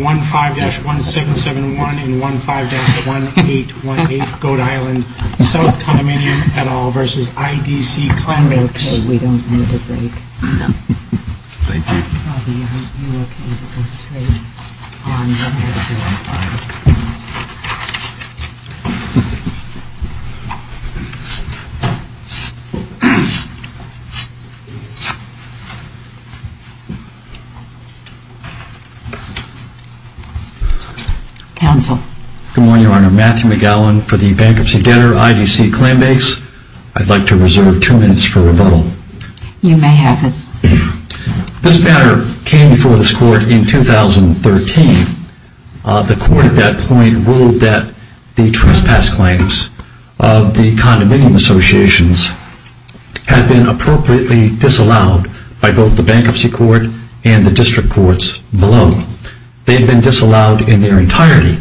15-1771 and 15-1818 Goat Island South Condominium et al. versus IDC Clambakes. Okay, we don't need a break. Thank you. Good morning, Your Honor. Matthew McGowan for the bankruptcy debtor, IDC Clambakes. I'd like to reserve two minutes for rebuttal. You may have it. This matter came before this court in 2013. The court at that point ruled that the trespass claims of the condominium associations had been appropriately disallowed by both the bankruptcy court and the district courts below. They had been disallowed in their entirety.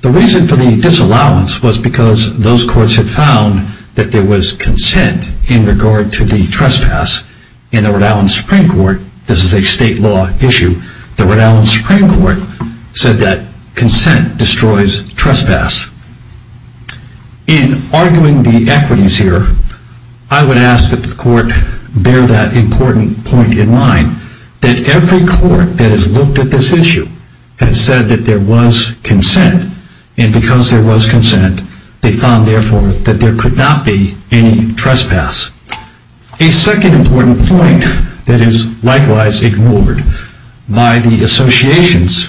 The reason for the disallowance was because those courts had found that there was consent in regard to the trespass in the Rhode Island Supreme Court. This is a state law issue. The Rhode Island Supreme Court said that consent destroys trespass. In arguing the equities here, I would ask that the court bear that important point in mind that every court that has looked at this issue has said that there was consent and because there was consent, they found, therefore, that there could not be any trespass. A second important point that is likewise ignored by the associations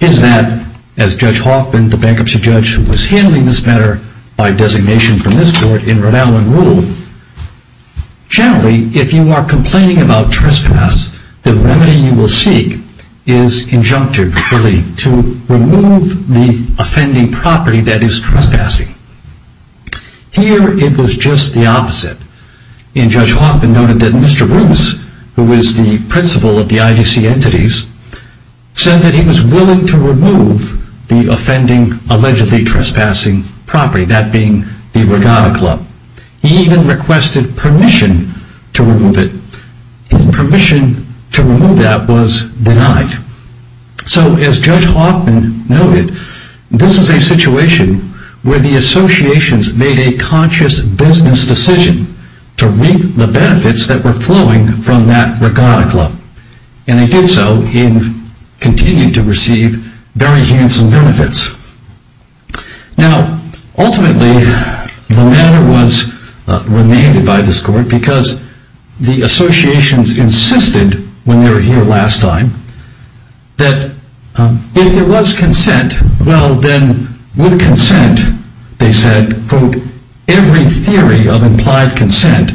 is that, as Judge Hoffman, the bankruptcy judge who was handling this matter, by designation from this court in Rhode Island ruled, generally, if you are complaining about trespass, the remedy you will seek is injunctive to remove the offending property that is trespassing. Here, it was just the opposite. Judge Hoffman noted that Mr. Bruce, who is the principal of the IDC entities, said that he was willing to remove the offending allegedly trespassing property, that being the Regatta Club. He even requested permission to remove it. Permission to remove that was denied. So, as Judge Hoffman noted, this is a situation where the associations made a conscious business decision to reap the benefits that were flowing from that Regatta Club. And they did so in continuing to receive very handsome benefits. Now, ultimately, the matter was renamed by this court because the associations insisted, when they were here last time, that if there was consent, well then, with consent, they said, quote, every theory of implied consent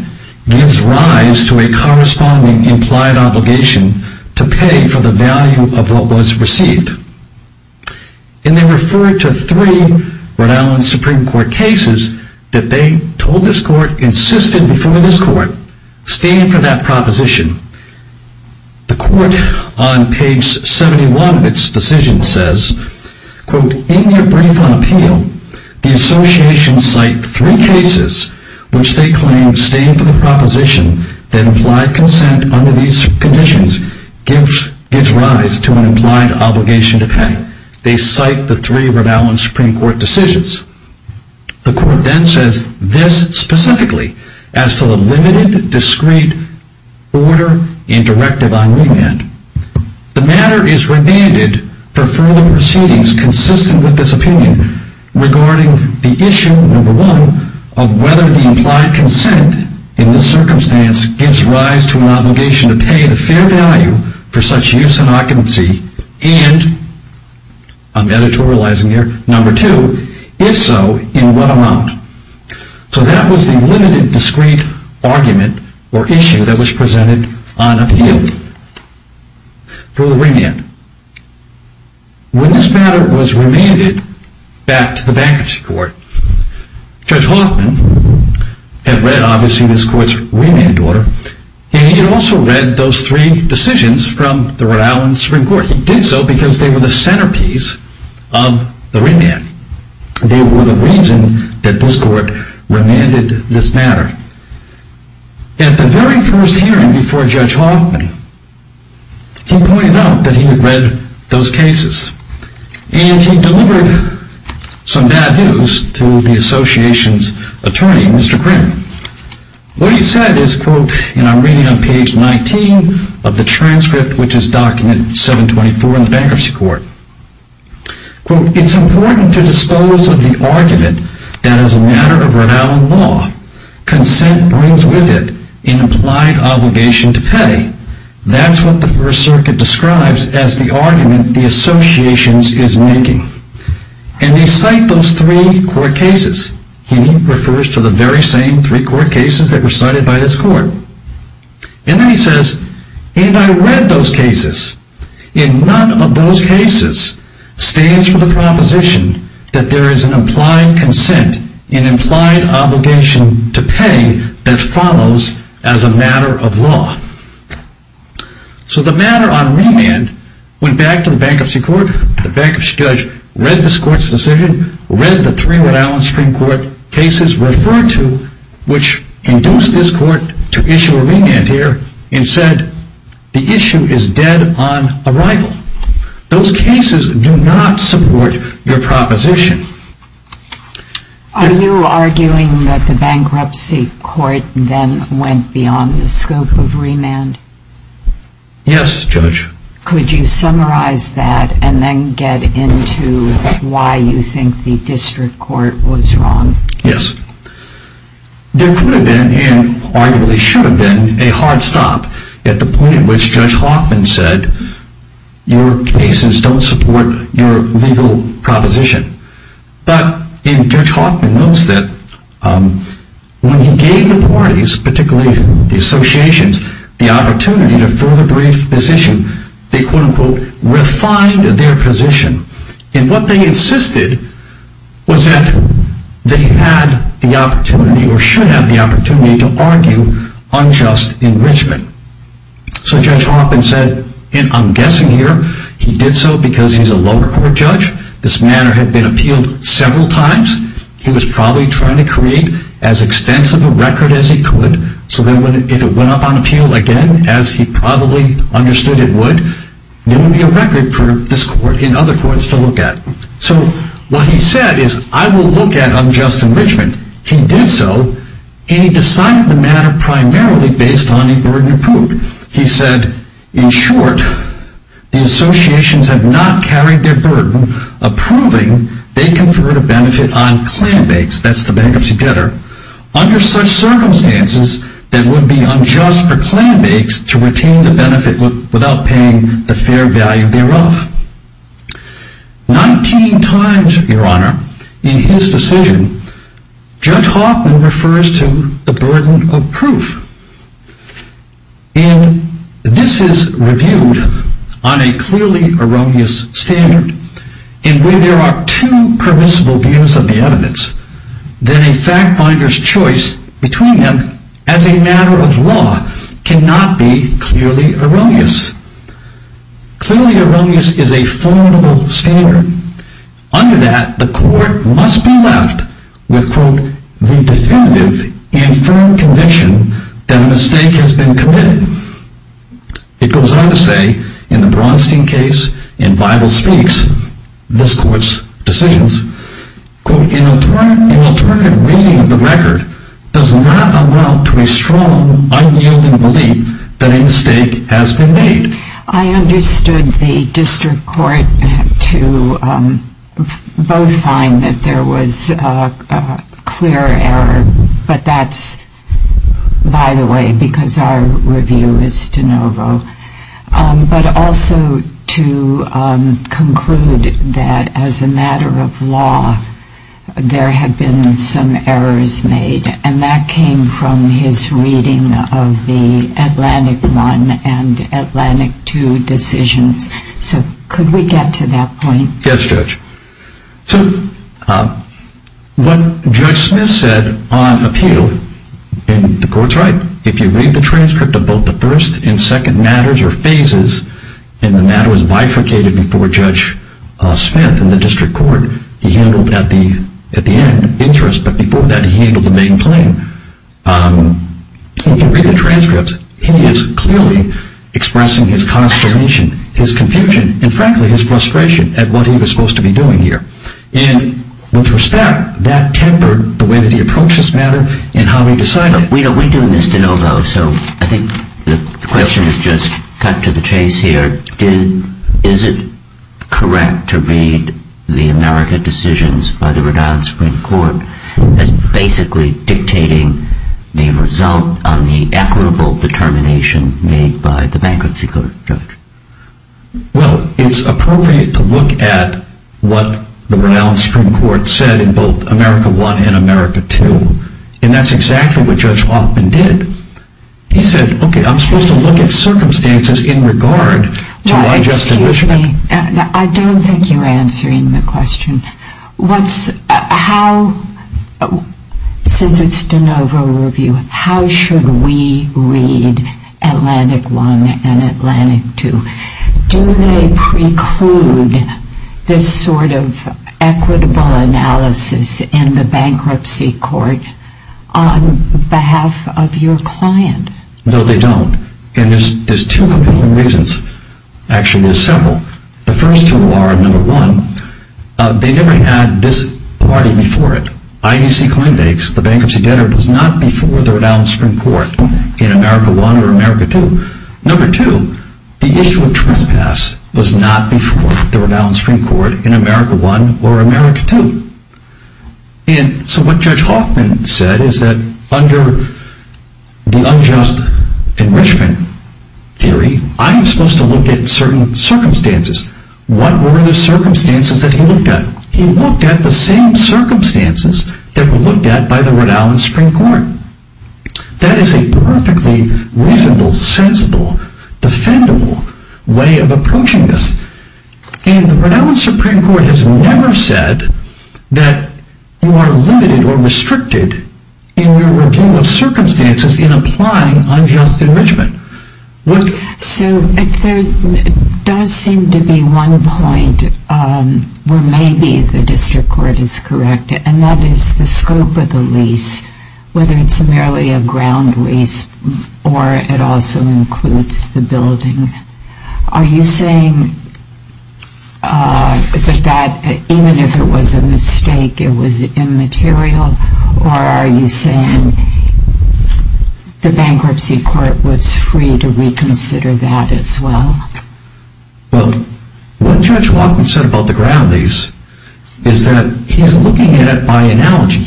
gives rise to a corresponding implied obligation to pay for the value of what was received. And they referred to three Rhode Island Supreme Court cases that they told this court, insisted before this court, stand for that proposition. The court, on page 71 of its decision, says, quote, in your brief on appeal, the associations cite three cases which they claim stand for the proposition that implied consent under these conditions gives rise to an implied obligation to pay. They cite the three Rhode Island Supreme Court decisions. The court then says this specifically as to the limited, discreet order and directive on remand. The matter is remanded for further proceedings consistent with this opinion regarding the issue, number one, of whether the implied consent in this circumstance gives rise to an obligation to pay the fair value for such use and occupancy, and, I'm editorializing here, number two, if so, in what amount. So that was the limited, discreet argument or issue that was presented on appeal for remand. When this matter was remanded back to the bankruptcy court, Judge Hoffman had read, obviously, this court's remand order, and he had also read those three decisions from the Rhode Island Supreme Court. He did so because they were the centerpiece of the remand. They were the reason that this court remanded this matter. At the very first hearing before Judge Hoffman, he pointed out that he had read those cases, and he delivered some bad news to the association's attorney, Mr. Crim. What he said is, quote, and I'm reading on page 19 of the transcript, which is document 724 in the bankruptcy court. Quote, it's important to dispose of the argument that as a matter of Rhode Island law, consent brings with it an implied obligation to pay. That's what the First Circuit describes as the argument the association is making. And they cite those three court cases. He refers to the very same three court cases that were cited by this court. And then he says, and I read those cases. In none of those cases stands for the proposition that there is an implied consent, an implied obligation to pay that follows as a matter of law. So the matter on remand went back to the bankruptcy court. The bankruptcy judge read this court's decision, read the three Rhode Island Supreme Court cases referred to, which induced this court to issue a remand here, and said the issue is dead on arrival. Those cases do not support your proposition. Are you arguing that the bankruptcy court then went beyond the scope of remand? Yes, Judge. Could you summarize that and then get into why you think the district court was wrong? Yes. There could have been, and arguably should have been, a hard stop at the point at which Judge Hoffman said, your cases don't support your legal proposition. But Judge Hoffman notes that when he gave the parties, particularly the associations, the opportunity to further brief this issue, they quote unquote refined their position. And what they insisted was that they had the opportunity or should have the opportunity to argue unjust enrichment. So Judge Hoffman said, and I'm guessing here he did so because he's a lower court judge. This matter had been appealed several times. He was probably trying to create as extensive a record as he could, so that if it went up on appeal again, as he probably understood it would, there would be a record for this court and other courts to look at. So what he said is, I will look at unjust enrichment. He did so, and he decided the matter primarily based on a burden of proof. He said, in short, the associations have not carried their burden of proving they conferred a benefit on Clanbakes, that's the bankruptcy debtor, under such circumstances that it would be unjust for Clanbakes to retain the benefit without paying the fair value thereof. Nineteen times, Your Honor, in his decision, Judge Hoffman refers to the burden of proof. This is reviewed on a clearly erroneous standard in which there are two permissible views of the evidence, then a fact finder's choice between them as a matter of law cannot be clearly erroneous. Clearly erroneous is a formidable standard. Under that, the court must be left with, quote, the definitive and firm conviction that a mistake has been committed. It goes on to say, in the Bronstein case, in Bible Speaks, this court's decisions, quote, an alternative reading of the record does not amount to a strong, unyielding belief that a mistake has been made. I understood the district court to both find that there was a clear error, but that's by the way because our review is de novo, but also to conclude that as a matter of law there had been some errors made, and that came from his reading of the Atlantic I and Atlantic II decisions. So could we get to that point? Yes, Judge. So what Judge Smith said on appeal, and the court's right, if you read the transcript of both the first and second matters or phases, and the matter was bifurcated before Judge Smith in the district court, he handled at the end interest, but before that he handled the main claim. If you read the transcripts, he is clearly expressing his consternation, his confusion, and frankly his frustration at what he was supposed to be doing here. And with respect, that tempered the way that he approached this matter and how he decided it. We're doing this de novo, so I think the question is just cut to the chase here. Is it correct to read the America decisions by the Rhode Island Supreme Court as basically dictating the result on the equitable determination made by the bankruptcy court, Judge? Well, it's appropriate to look at what the Rhode Island Supreme Court said in both America I and America II, and that's exactly what Judge Hoffman did. He said, okay, I'm supposed to look at circumstances in regard to my judgment. Well, excuse me, I don't think you're answering the question. What's, how, since it's de novo review, how should we read Atlantic I and Atlantic II? Do they preclude this sort of equitable analysis in the bankruptcy court on behalf of your client? No, they don't. And there's two compelling reasons. Actually, there's several. The first two are, number one, they never had this party before it. I.E.C. Klendake, the bankruptcy debtor, was not before the Rhode Island Supreme Court in America I or America II. Number two, the issue of trespass was not before the Rhode Island Supreme Court in America I or America II. And so what Judge Hoffman said is that under the unjust enrichment theory, I am supposed to look at certain circumstances. What were the circumstances that he looked at? He looked at the same circumstances that were looked at by the Rhode Island Supreme Court. That is a perfectly reasonable, sensible, defendable way of approaching this. And the Rhode Island Supreme Court has never said that you are limited or restricted in your review of circumstances in applying unjust enrichment. So there does seem to be one point where maybe the district court is correct, and that is the scope of the lease, whether it's merely a ground lease or it also includes the building. Are you saying that even if it was a mistake, it was immaterial? Or are you saying the bankruptcy court was free to reconsider that as well? Well, what Judge Hoffman said about the ground lease is that he's looking at it by analogy.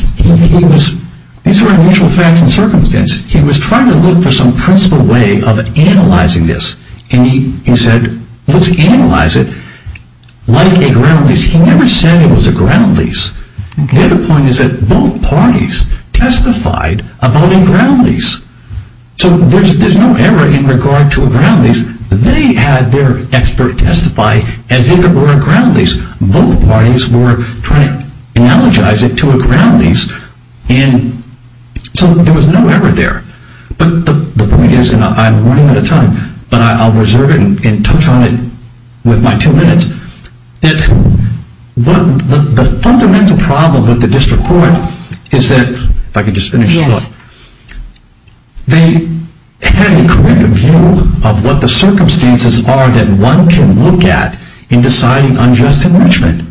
These are unusual facts and circumstances. He was trying to look for some principled way of analyzing this. And he said, let's analyze it like a ground lease. He never said it was a ground lease. The other point is that both parties testified about a ground lease. So there's no error in regard to a ground lease. They had their expert testify as if it were a ground lease. Both parties were trying to analogize it to a ground lease. And so there was no error there. But the point is, and I'm running out of time, but I'll reserve it and touch on it with my two minutes, that the fundamental problem with the district court is that, if I could just finish this up, they had a cribbed view of what the circumstances are that one can look at in deciding unjust enrichment.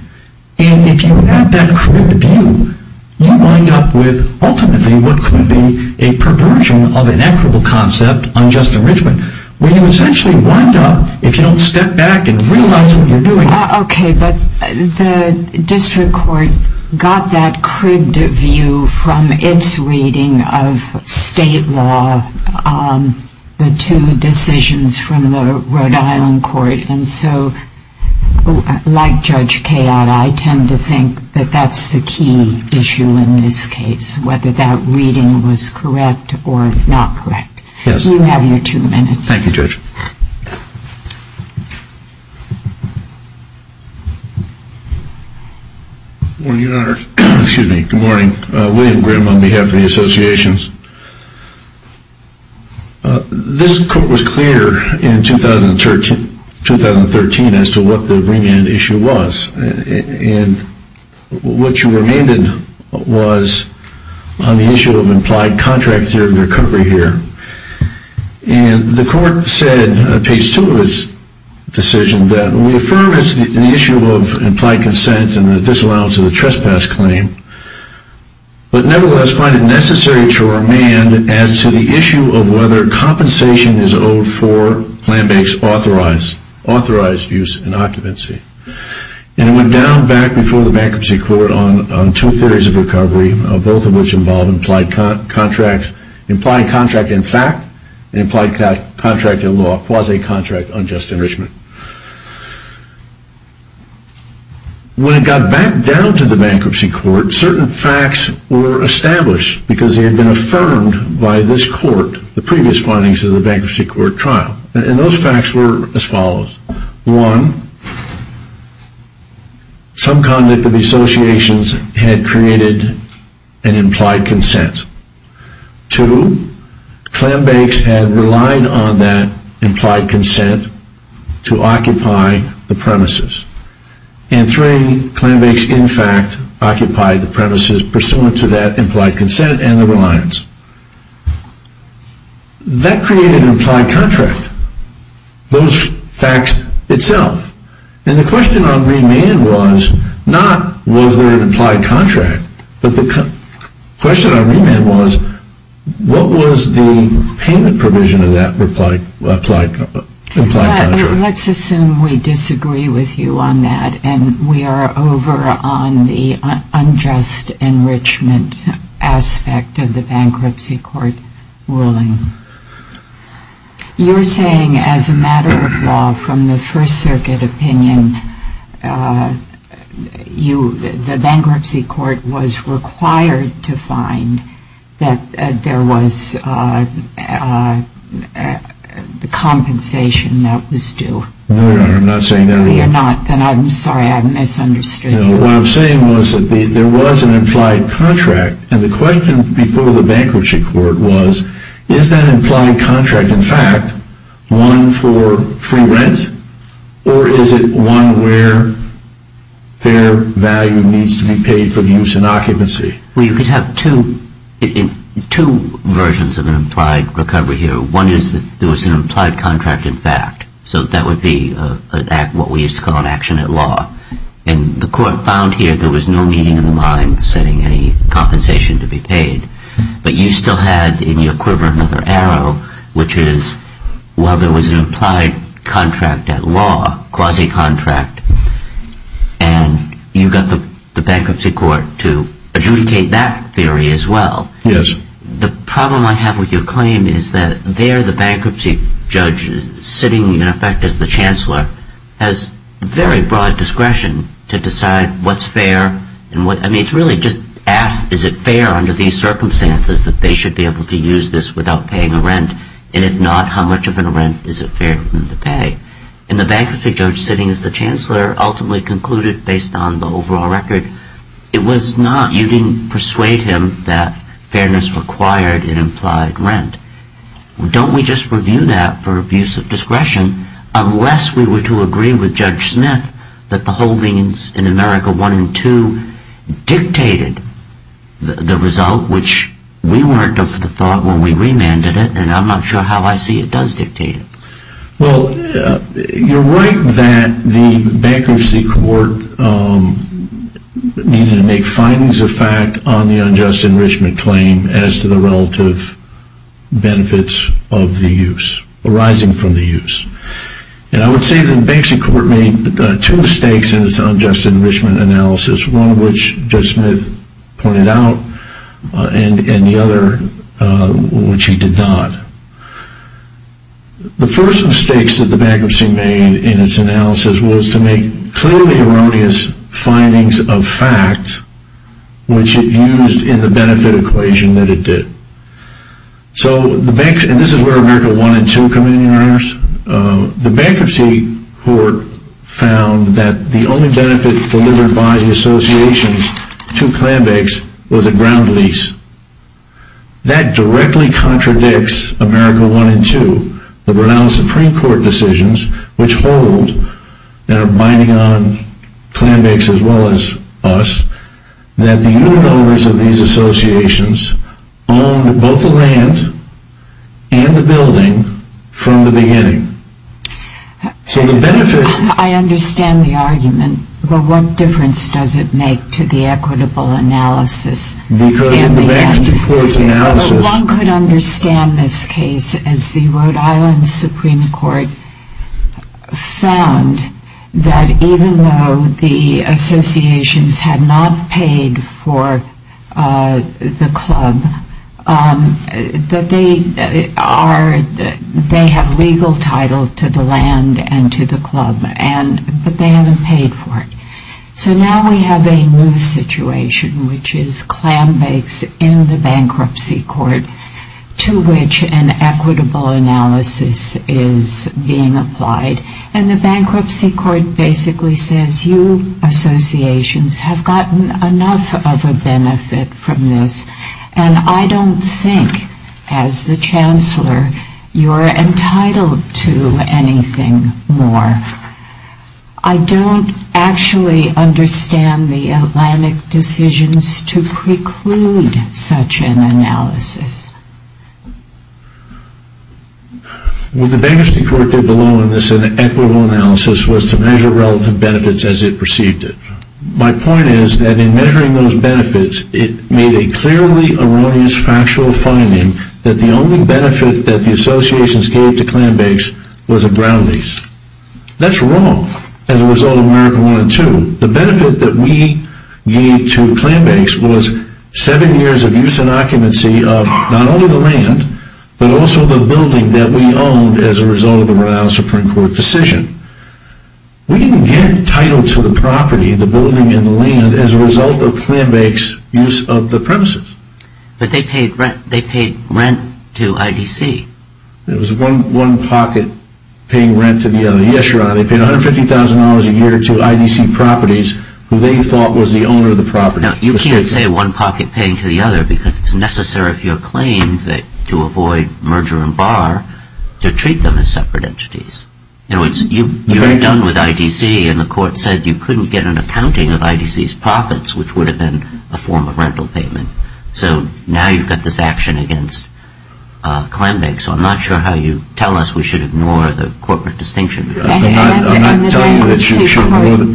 And if you have that cribbed view, you wind up with, ultimately, what could be a perversion of an equitable concept, unjust enrichment, where you essentially wind up, if you don't step back and realize what you're doing. Okay, but the district court got that cribbed view from its reading of state law, the two decisions from the Rhode Island court. And so, like Judge Kayotta, I tend to think that that's the key issue in this case, whether that reading was correct or not correct. You have your two minutes. Thank you, Judge. Good morning, Your Honor. Excuse me. Good morning. William Grimm on behalf of the associations. This court was clear in 2013 as to what the remand issue was. And what you remained in was on the issue of implied contract theory of recovery here. And the court said, page two of its decision, that we affirm it's an issue of implied consent and the disallowance of the trespass claim, but nevertheless find it necessary to remand as to the issue of whether compensation is owed for plan-based authorized use in occupancy. And it went down back before the bankruptcy court on two theories of recovery, both of which involved implied contract in fact and implied contract in law, quasi-contract unjust enrichment. When it got back down to the bankruptcy court, certain facts were established because they had been affirmed by this court, the previous findings of the bankruptcy court trial. And those facts were as follows. One, some conduct of the associations had created an implied consent. Two, Clambakes had relied on that implied consent to occupy the premises. And three, Clambakes in fact occupied the premises pursuant to that implied consent and the reliance. That created an implied contract. Those facts itself. And the question on remand was not was there an implied contract, but the question on remand was what was the payment provision of that implied contract. Let's assume we disagree with you on that and we are over on the unjust enrichment aspect of the bankruptcy court ruling. You're saying as a matter of law from the First Circuit opinion, the bankruptcy court was required to find that there was the compensation that was due. No, Your Honor, I'm not saying that at all. No, you're not. Then I'm sorry I misunderstood you. No, what I'm saying was that there was an implied contract and the question before the bankruptcy court was, is that implied contract in fact one for free rent or is it one where fair value needs to be paid for use in occupancy? Well, you could have two versions of an implied recovery here. One is that there was an implied contract in fact. So that would be what we used to call an action at law. And the court found here there was no meaning in the mind setting any compensation to be paid. But you still had in your quiver another arrow, which is while there was an implied contract at law, quasi-contract, and you got the bankruptcy court to adjudicate that theory as well. Yes. The problem I have with your claim is that there the bankruptcy judge sitting in effect as the chancellor has very broad discretion to decide what's fair. I mean, it's really just asked, is it fair under these circumstances that they should be able to use this without paying a rent? And if not, how much of a rent is it fair for them to pay? And the bankruptcy judge sitting as the chancellor ultimately concluded, based on the overall record, it was not. You didn't persuade him that fairness required an implied rent. Don't we just review that for abuse of discretion unless we were to agree with Judge Smith that the holdings in America 1 and 2 dictated the result, which we weren't of the thought when we remanded it, and I'm not sure how I see it does dictate it. Well, you're right that the bankruptcy court needed to make findings of fact on the unjust enrichment claim as to the relative benefits of the use arising from the use. And I would say that the bankruptcy court made two mistakes in its unjust enrichment analysis, one of which Judge Smith pointed out, and the other which he did not. The first mistakes that the bankruptcy made in its analysis was to make clearly erroneous findings of fact, which it used in the benefit equation that it did. And this is where America 1 and 2 come in. The bankruptcy court found that the only benefit delivered by the associations to Clanbakes was a ground lease. That directly contradicts America 1 and 2, the renowned Supreme Court decisions, which hold, and are binding on Clanbakes as well as us, that the unit owners of these associations owned both the land and the building from the beginning. I understand the argument, but what difference does it make to the equitable analysis? One could understand this case as the Rhode Island Supreme Court found that even though the associations had not paid for the club, that they have legal title to the land and to the club, but they haven't paid for it. So now we have a new situation, which is Clanbakes in the bankruptcy court, to which an equitable analysis is being applied. And the bankruptcy court basically says, you associations have gotten enough of a benefit from this, and I don't think, as the Chancellor, you're entitled to anything more. I don't actually understand the Atlantic decisions to preclude such an analysis. What the bankruptcy court did below in this equitable analysis was to measure relative benefits as it perceived it. My point is that in measuring those benefits, it made a clearly erroneous factual finding that the only benefit that the associations gave to Clanbakes was a ground lease. That's wrong as a result of American I and II. The benefit that we gave to Clanbakes was seven years of use and occupancy of not only the land, but also the building that we owned as a result of the Rhode Island Supreme Court decision. We didn't get title to the property, the building and the land, as a result of Clanbakes' use of the premises. But they paid rent to IDC. It was one pocket paying rent to the other. Yes, Your Honor, they paid $150,000 a year to IDC properties, who they thought was the owner of the property. Now, you can't say one pocket paying to the other, because it's necessary for your claim to avoid merger and bar to treat them as separate entities. In other words, you're done with IDC, and the court said you couldn't get an accounting of IDC's profits, which would have been a form of rental payment. So now you've got this action against Clanbakes. So I'm not sure how you tell us we should ignore the corporate distinction. I'm not telling you that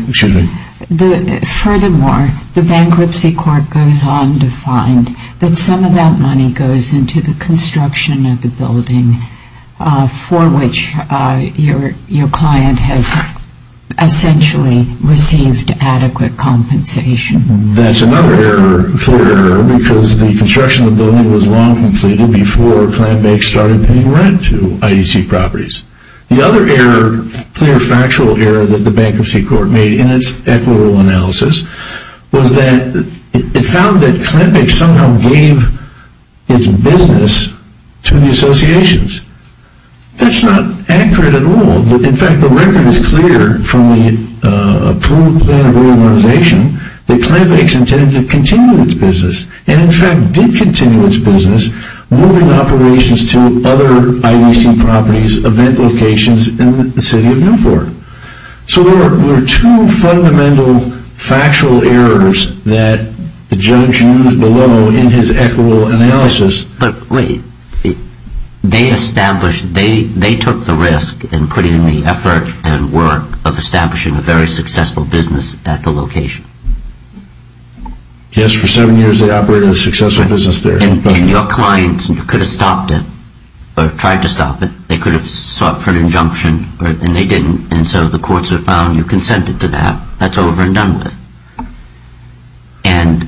you should ignore it. Furthermore, the bankruptcy court goes on to find that some of that money goes into the construction of the building, for which your client has essentially received adequate compensation. That's another clear error, because the construction of the building was long completed before Clanbakes started paying rent to IDC properties. The other clear factual error that the bankruptcy court made in its equitable analysis was that it found that Clanbakes somehow gave its business to the associations. That's not accurate at all. In fact, the record is clear from the approved plan of reorganization that Clanbakes intended to continue its business, and in fact did continue its business, moving operations to other IDC properties, event locations in the city of Newport. So there were two fundamental factual errors that the judge used below in his equitable analysis. They took the risk in putting in the effort and work of establishing a very successful business at the location. Yes, for seven years they operated a successful business there. And your clients could have stopped it, or tried to stop it. They could have sought for an injunction, and they didn't. And so the courts have found you consented to that. That's over and done with. And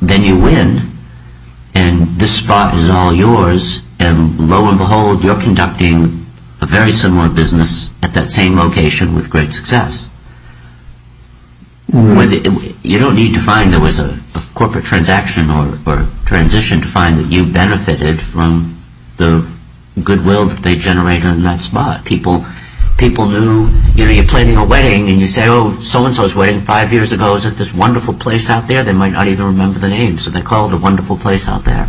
then you win, and this spot is all yours, and lo and behold, you're conducting a very similar business at that same location with great success. You don't need to find there was a corporate transaction or transition to find that you benefited from the goodwill that they generated in that spot. People knew, you know, you're planning a wedding, and you say, oh, so-and-so's wedding five years ago is at this wonderful place out there. They might not even remember the name, so they call it a wonderful place out there.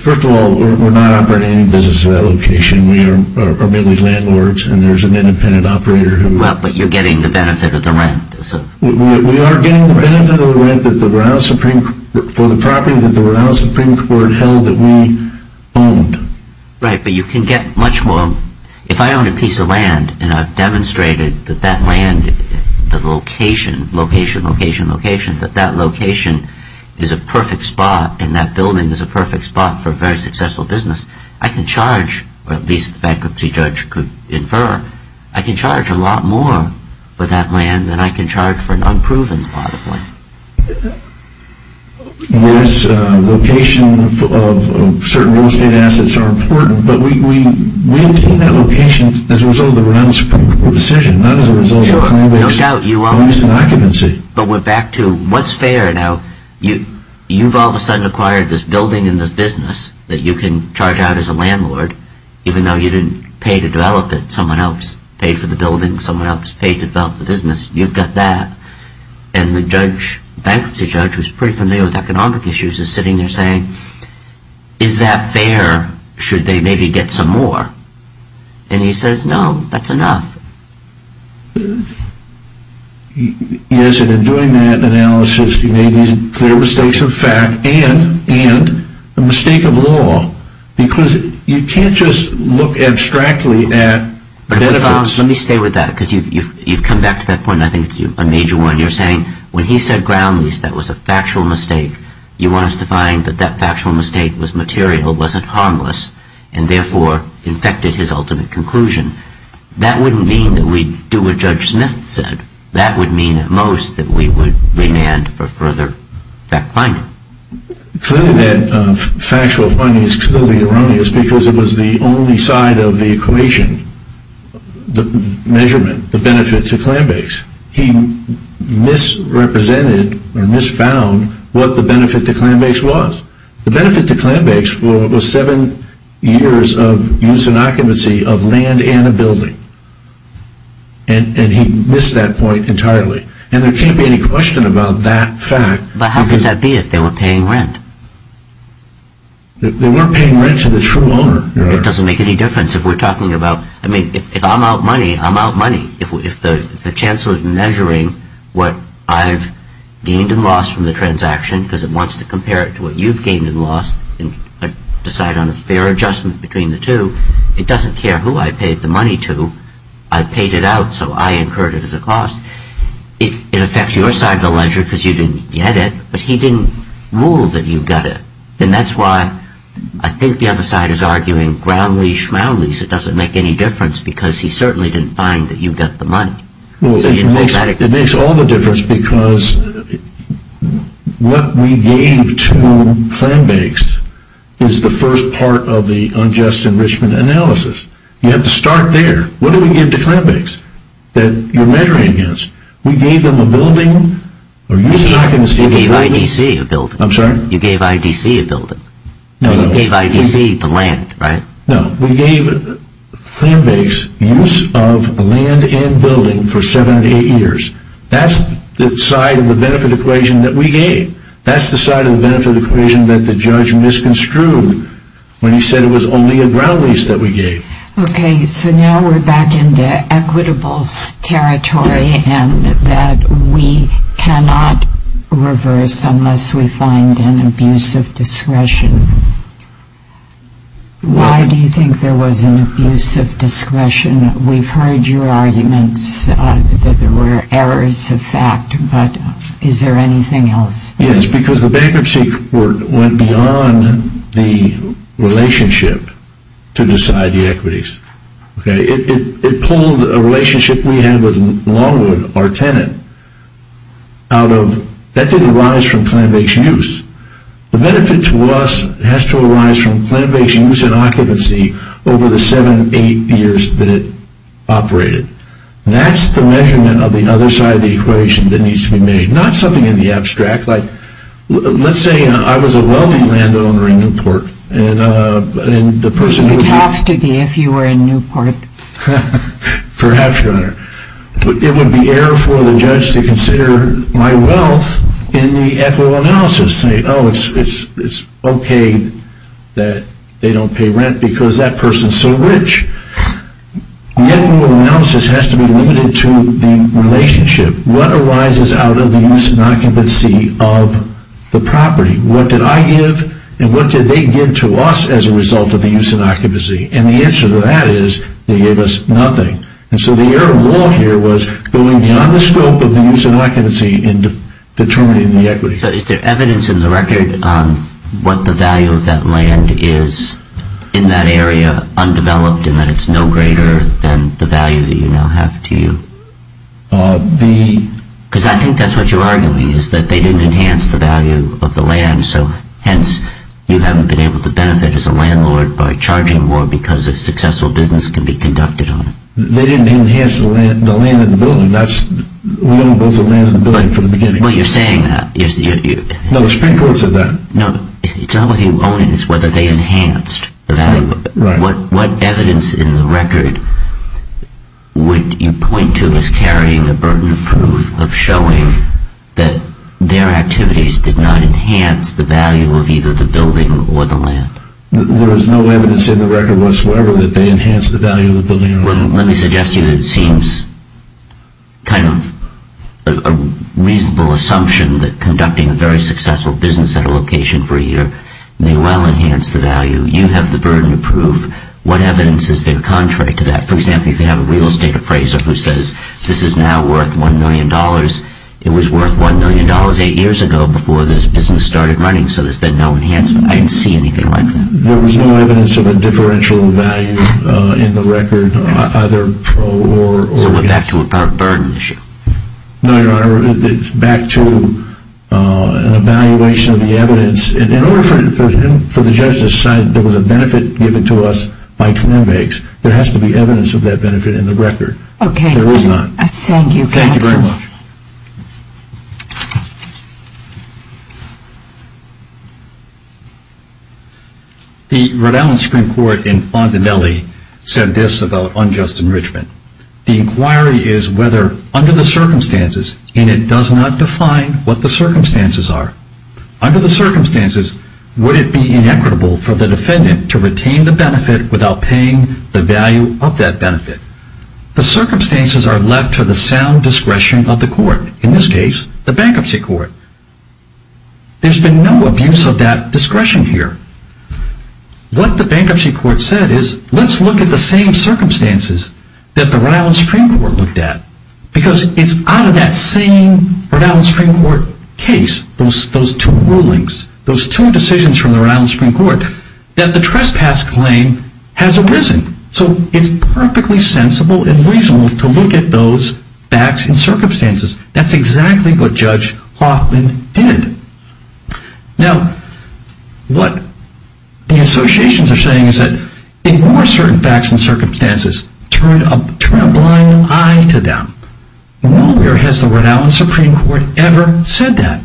First of all, we're not operating any business at that location. We are merely landlords, and there's an independent operator who... Well, but you're getting the benefit of the rent. We are getting the benefit of the rent for the property that the Brown Supreme Court held that we owned. Right, but you can get much more. If I own a piece of land, and I've demonstrated that that land, the location, location, location, location, that that location is a perfect spot, and that building is a perfect spot for a very successful business, I can charge, or at least the bankruptcy judge could infer, I can charge a lot more for that land than I can charge for an unproven spot of land. Yes, location of certain real estate assets are important, but we obtain that location as a result of the Brown Supreme Court decision, not as a result of claim-based occupancy. But we're back to what's fair. Now, you've all of a sudden acquired this building and this business that you can charge out as a landlord, even though you didn't pay to develop it. Someone else paid for the building. Someone else paid to develop the business. You've got that, and the judge, the bankruptcy judge, who's pretty familiar with economic issues, is sitting there saying, is that fair, should they maybe get some more? And he says, no, that's enough. Yes, and in doing that analysis, he made these clear mistakes of fact, and a mistake of law, because you can't just look abstractly at benefits. Let me stay with that, because you've come back to that point, and I think it's a major one. You're saying, when he said ground lease, that was a factual mistake. You want us to find that that factual mistake was material, wasn't harmless, and therefore infected his ultimate conclusion. That wouldn't mean that we'd do what Judge Smith said. That would mean, at most, that we would demand for further fact-finding. Clearly, that factual finding is clearly erroneous, because it was the only side of the equation, the measurement, the benefit to claim-based. He misrepresented, or misfound, what the benefit to claim-based was. The benefit to claim-based was seven years of use and occupancy of land and a building. And he missed that point entirely. And there can't be any question about that fact. But how could that be, if they were paying rent? They weren't paying rent to the true owner. It doesn't make any difference if we're talking about, I mean, if I'm out money, I'm out money. If the Chancellor's measuring what I've gained and lost from the transaction, because it wants to compare it to what you've gained and lost, and decide on a fair adjustment between the two, it doesn't care who I paid the money to. I paid it out, so I incurred it as a cost. It affects your side of the ledger, because you didn't get it, but he didn't rule that you got it. And that's why I think the other side is arguing ground-leash, round-leash. It doesn't make any difference, because he certainly didn't find that you got the money. It makes all the difference, because what we gave to claim-based is the first part of the unjust enrichment analysis. You have to start there. What did we give to claim-based that you're measuring against? We gave them a building. You gave IDC a building. I'm sorry? You gave IDC a building. You gave IDC the land, right? No, we gave claim-based use of land and building for seven to eight years. That's the side of the benefit equation that we gave. That's the side of the benefit equation that the judge misconstrued when he said it was only a ground-lease that we gave. Okay, so now we're back into equitable territory, and that we cannot reverse unless we find an abuse of discretion. Why do you think there was an abuse of discretion? We've heard your arguments that there were errors of fact, but is there anything else? Yes, because the bankruptcy court went beyond the relationship to decide the equities. It pulled a relationship we had with Longwood, our tenant. That didn't arise from claim-based use. The benefit to us has to arise from claim-based use and occupancy over the seven, eight years that it operated. That's the measurement of the other side of the equation that needs to be made, not something in the abstract, like let's say I was a wealthy landowner in Newport. It would have to be if you were in Newport. Perhaps, Your Honor. It would be error for the judge to consider my wealth in the equitable analysis and say, oh, it's okay that they don't pay rent because that person is so rich. The equitable analysis has to be limited to the relationship. What arises out of the use and occupancy of the property? What did I give, and what did they give to us as a result of the use and occupancy? And the answer to that is they gave us nothing. And so the error of the law here was going beyond the scope of the use and occupancy in determining the equity. Is there evidence in the record on what the value of that land is in that area undeveloped and that it's no greater than the value that you now have to you? Because I think that's what you're arguing is that they didn't enhance the value of the land, so hence you haven't been able to benefit as a landlord by charging more because a successful business can be conducted on it. They didn't enhance the land in the building. We own both the land and the building from the beginning. Well, you're saying that. No, the Supreme Court said that. No, it's not whether you own it. It's whether they enhanced the value. What evidence in the record would you point to as carrying the burden of proof that there is no evidence in the record whatsoever that they enhanced the value of the building? Well, let me suggest to you that it seems kind of a reasonable assumption that conducting a very successful business at a location for a year may well enhance the value. You have the burden of proof. What evidence is there contrary to that? For example, you could have a real estate appraiser who says this is now worth $1 million. It was worth $1 million eight years ago before this business started running, so there's been no enhancement. I didn't see anything like that. There was no evidence of a differential value in the record, either pro or against. So we're back to our burden issue. No, Your Honor. It's back to an evaluation of the evidence. In order for the judge to decide there was a benefit given to us by 10 megs, there has to be evidence of that benefit in the record. There is not. Thank you, counsel. Thank you very much. The Rhode Island Supreme Court in Fondanelli said this about unjust enrichment. The inquiry is whether under the circumstances, and it does not define what the circumstances are, under the circumstances would it be inequitable for the defendant to retain the benefit without paying the value of that benefit. The circumstances are left to the sound discretion of the court. In this case, the bankruptcy court. There's been no abuse of that discretion here. What the bankruptcy court said is, let's look at the same circumstances that the Rhode Island Supreme Court looked at. Because it's out of that same Rhode Island Supreme Court case, those two rulings, those two decisions from the Rhode Island Supreme Court, that the trespass claim has arisen. So it's perfectly sensible and reasonable to look at those facts and circumstances. That's exactly what Judge Hoffman did. Now, what the associations are saying is that in more certain facts and circumstances, turn a blind eye to them. Nowhere has the Rhode Island Supreme Court ever said that.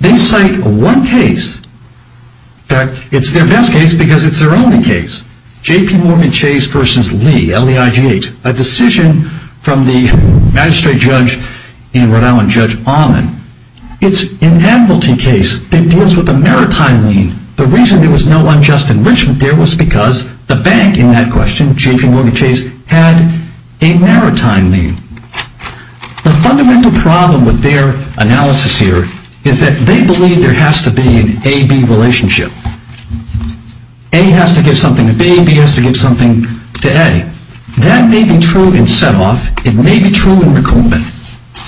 They cite one case. In fact, it's their best case because it's their only case. J.P. Morgan Chase v. Lee, L-E-I-G-H. This is a decision from the magistrate judge in Rhode Island, Judge Ahman. It's an admiralty case that deals with a maritime lien. The reason there was no unjust enrichment there was because the bank in that question, J.P. Morgan Chase, had a maritime lien. The fundamental problem with their analysis here is that they believe there has to be an A-B relationship. A has to give something to B, B has to give something to A. That may be true in set-off, it may be true in recoupment,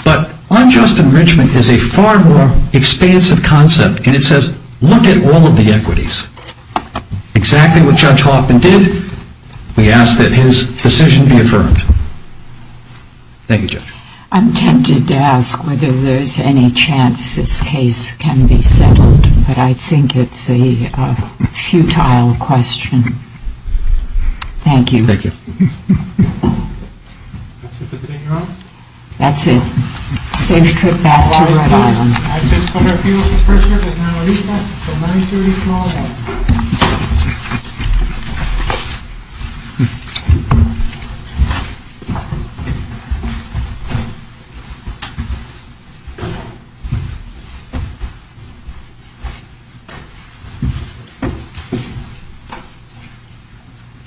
but unjust enrichment is a far more expansive concept, and it says, look at all of the equities. Exactly what Judge Hoffman did, we ask that his decision be affirmed. Thank you, Judge. I'm tempted to ask whether there's any chance this case can be settled, but I think it's a futile question. Thank you. That's it. Safe trip back to Rhode Island. Good job.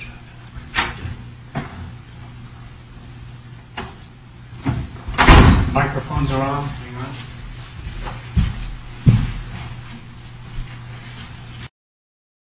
Microphones are on. Hang on.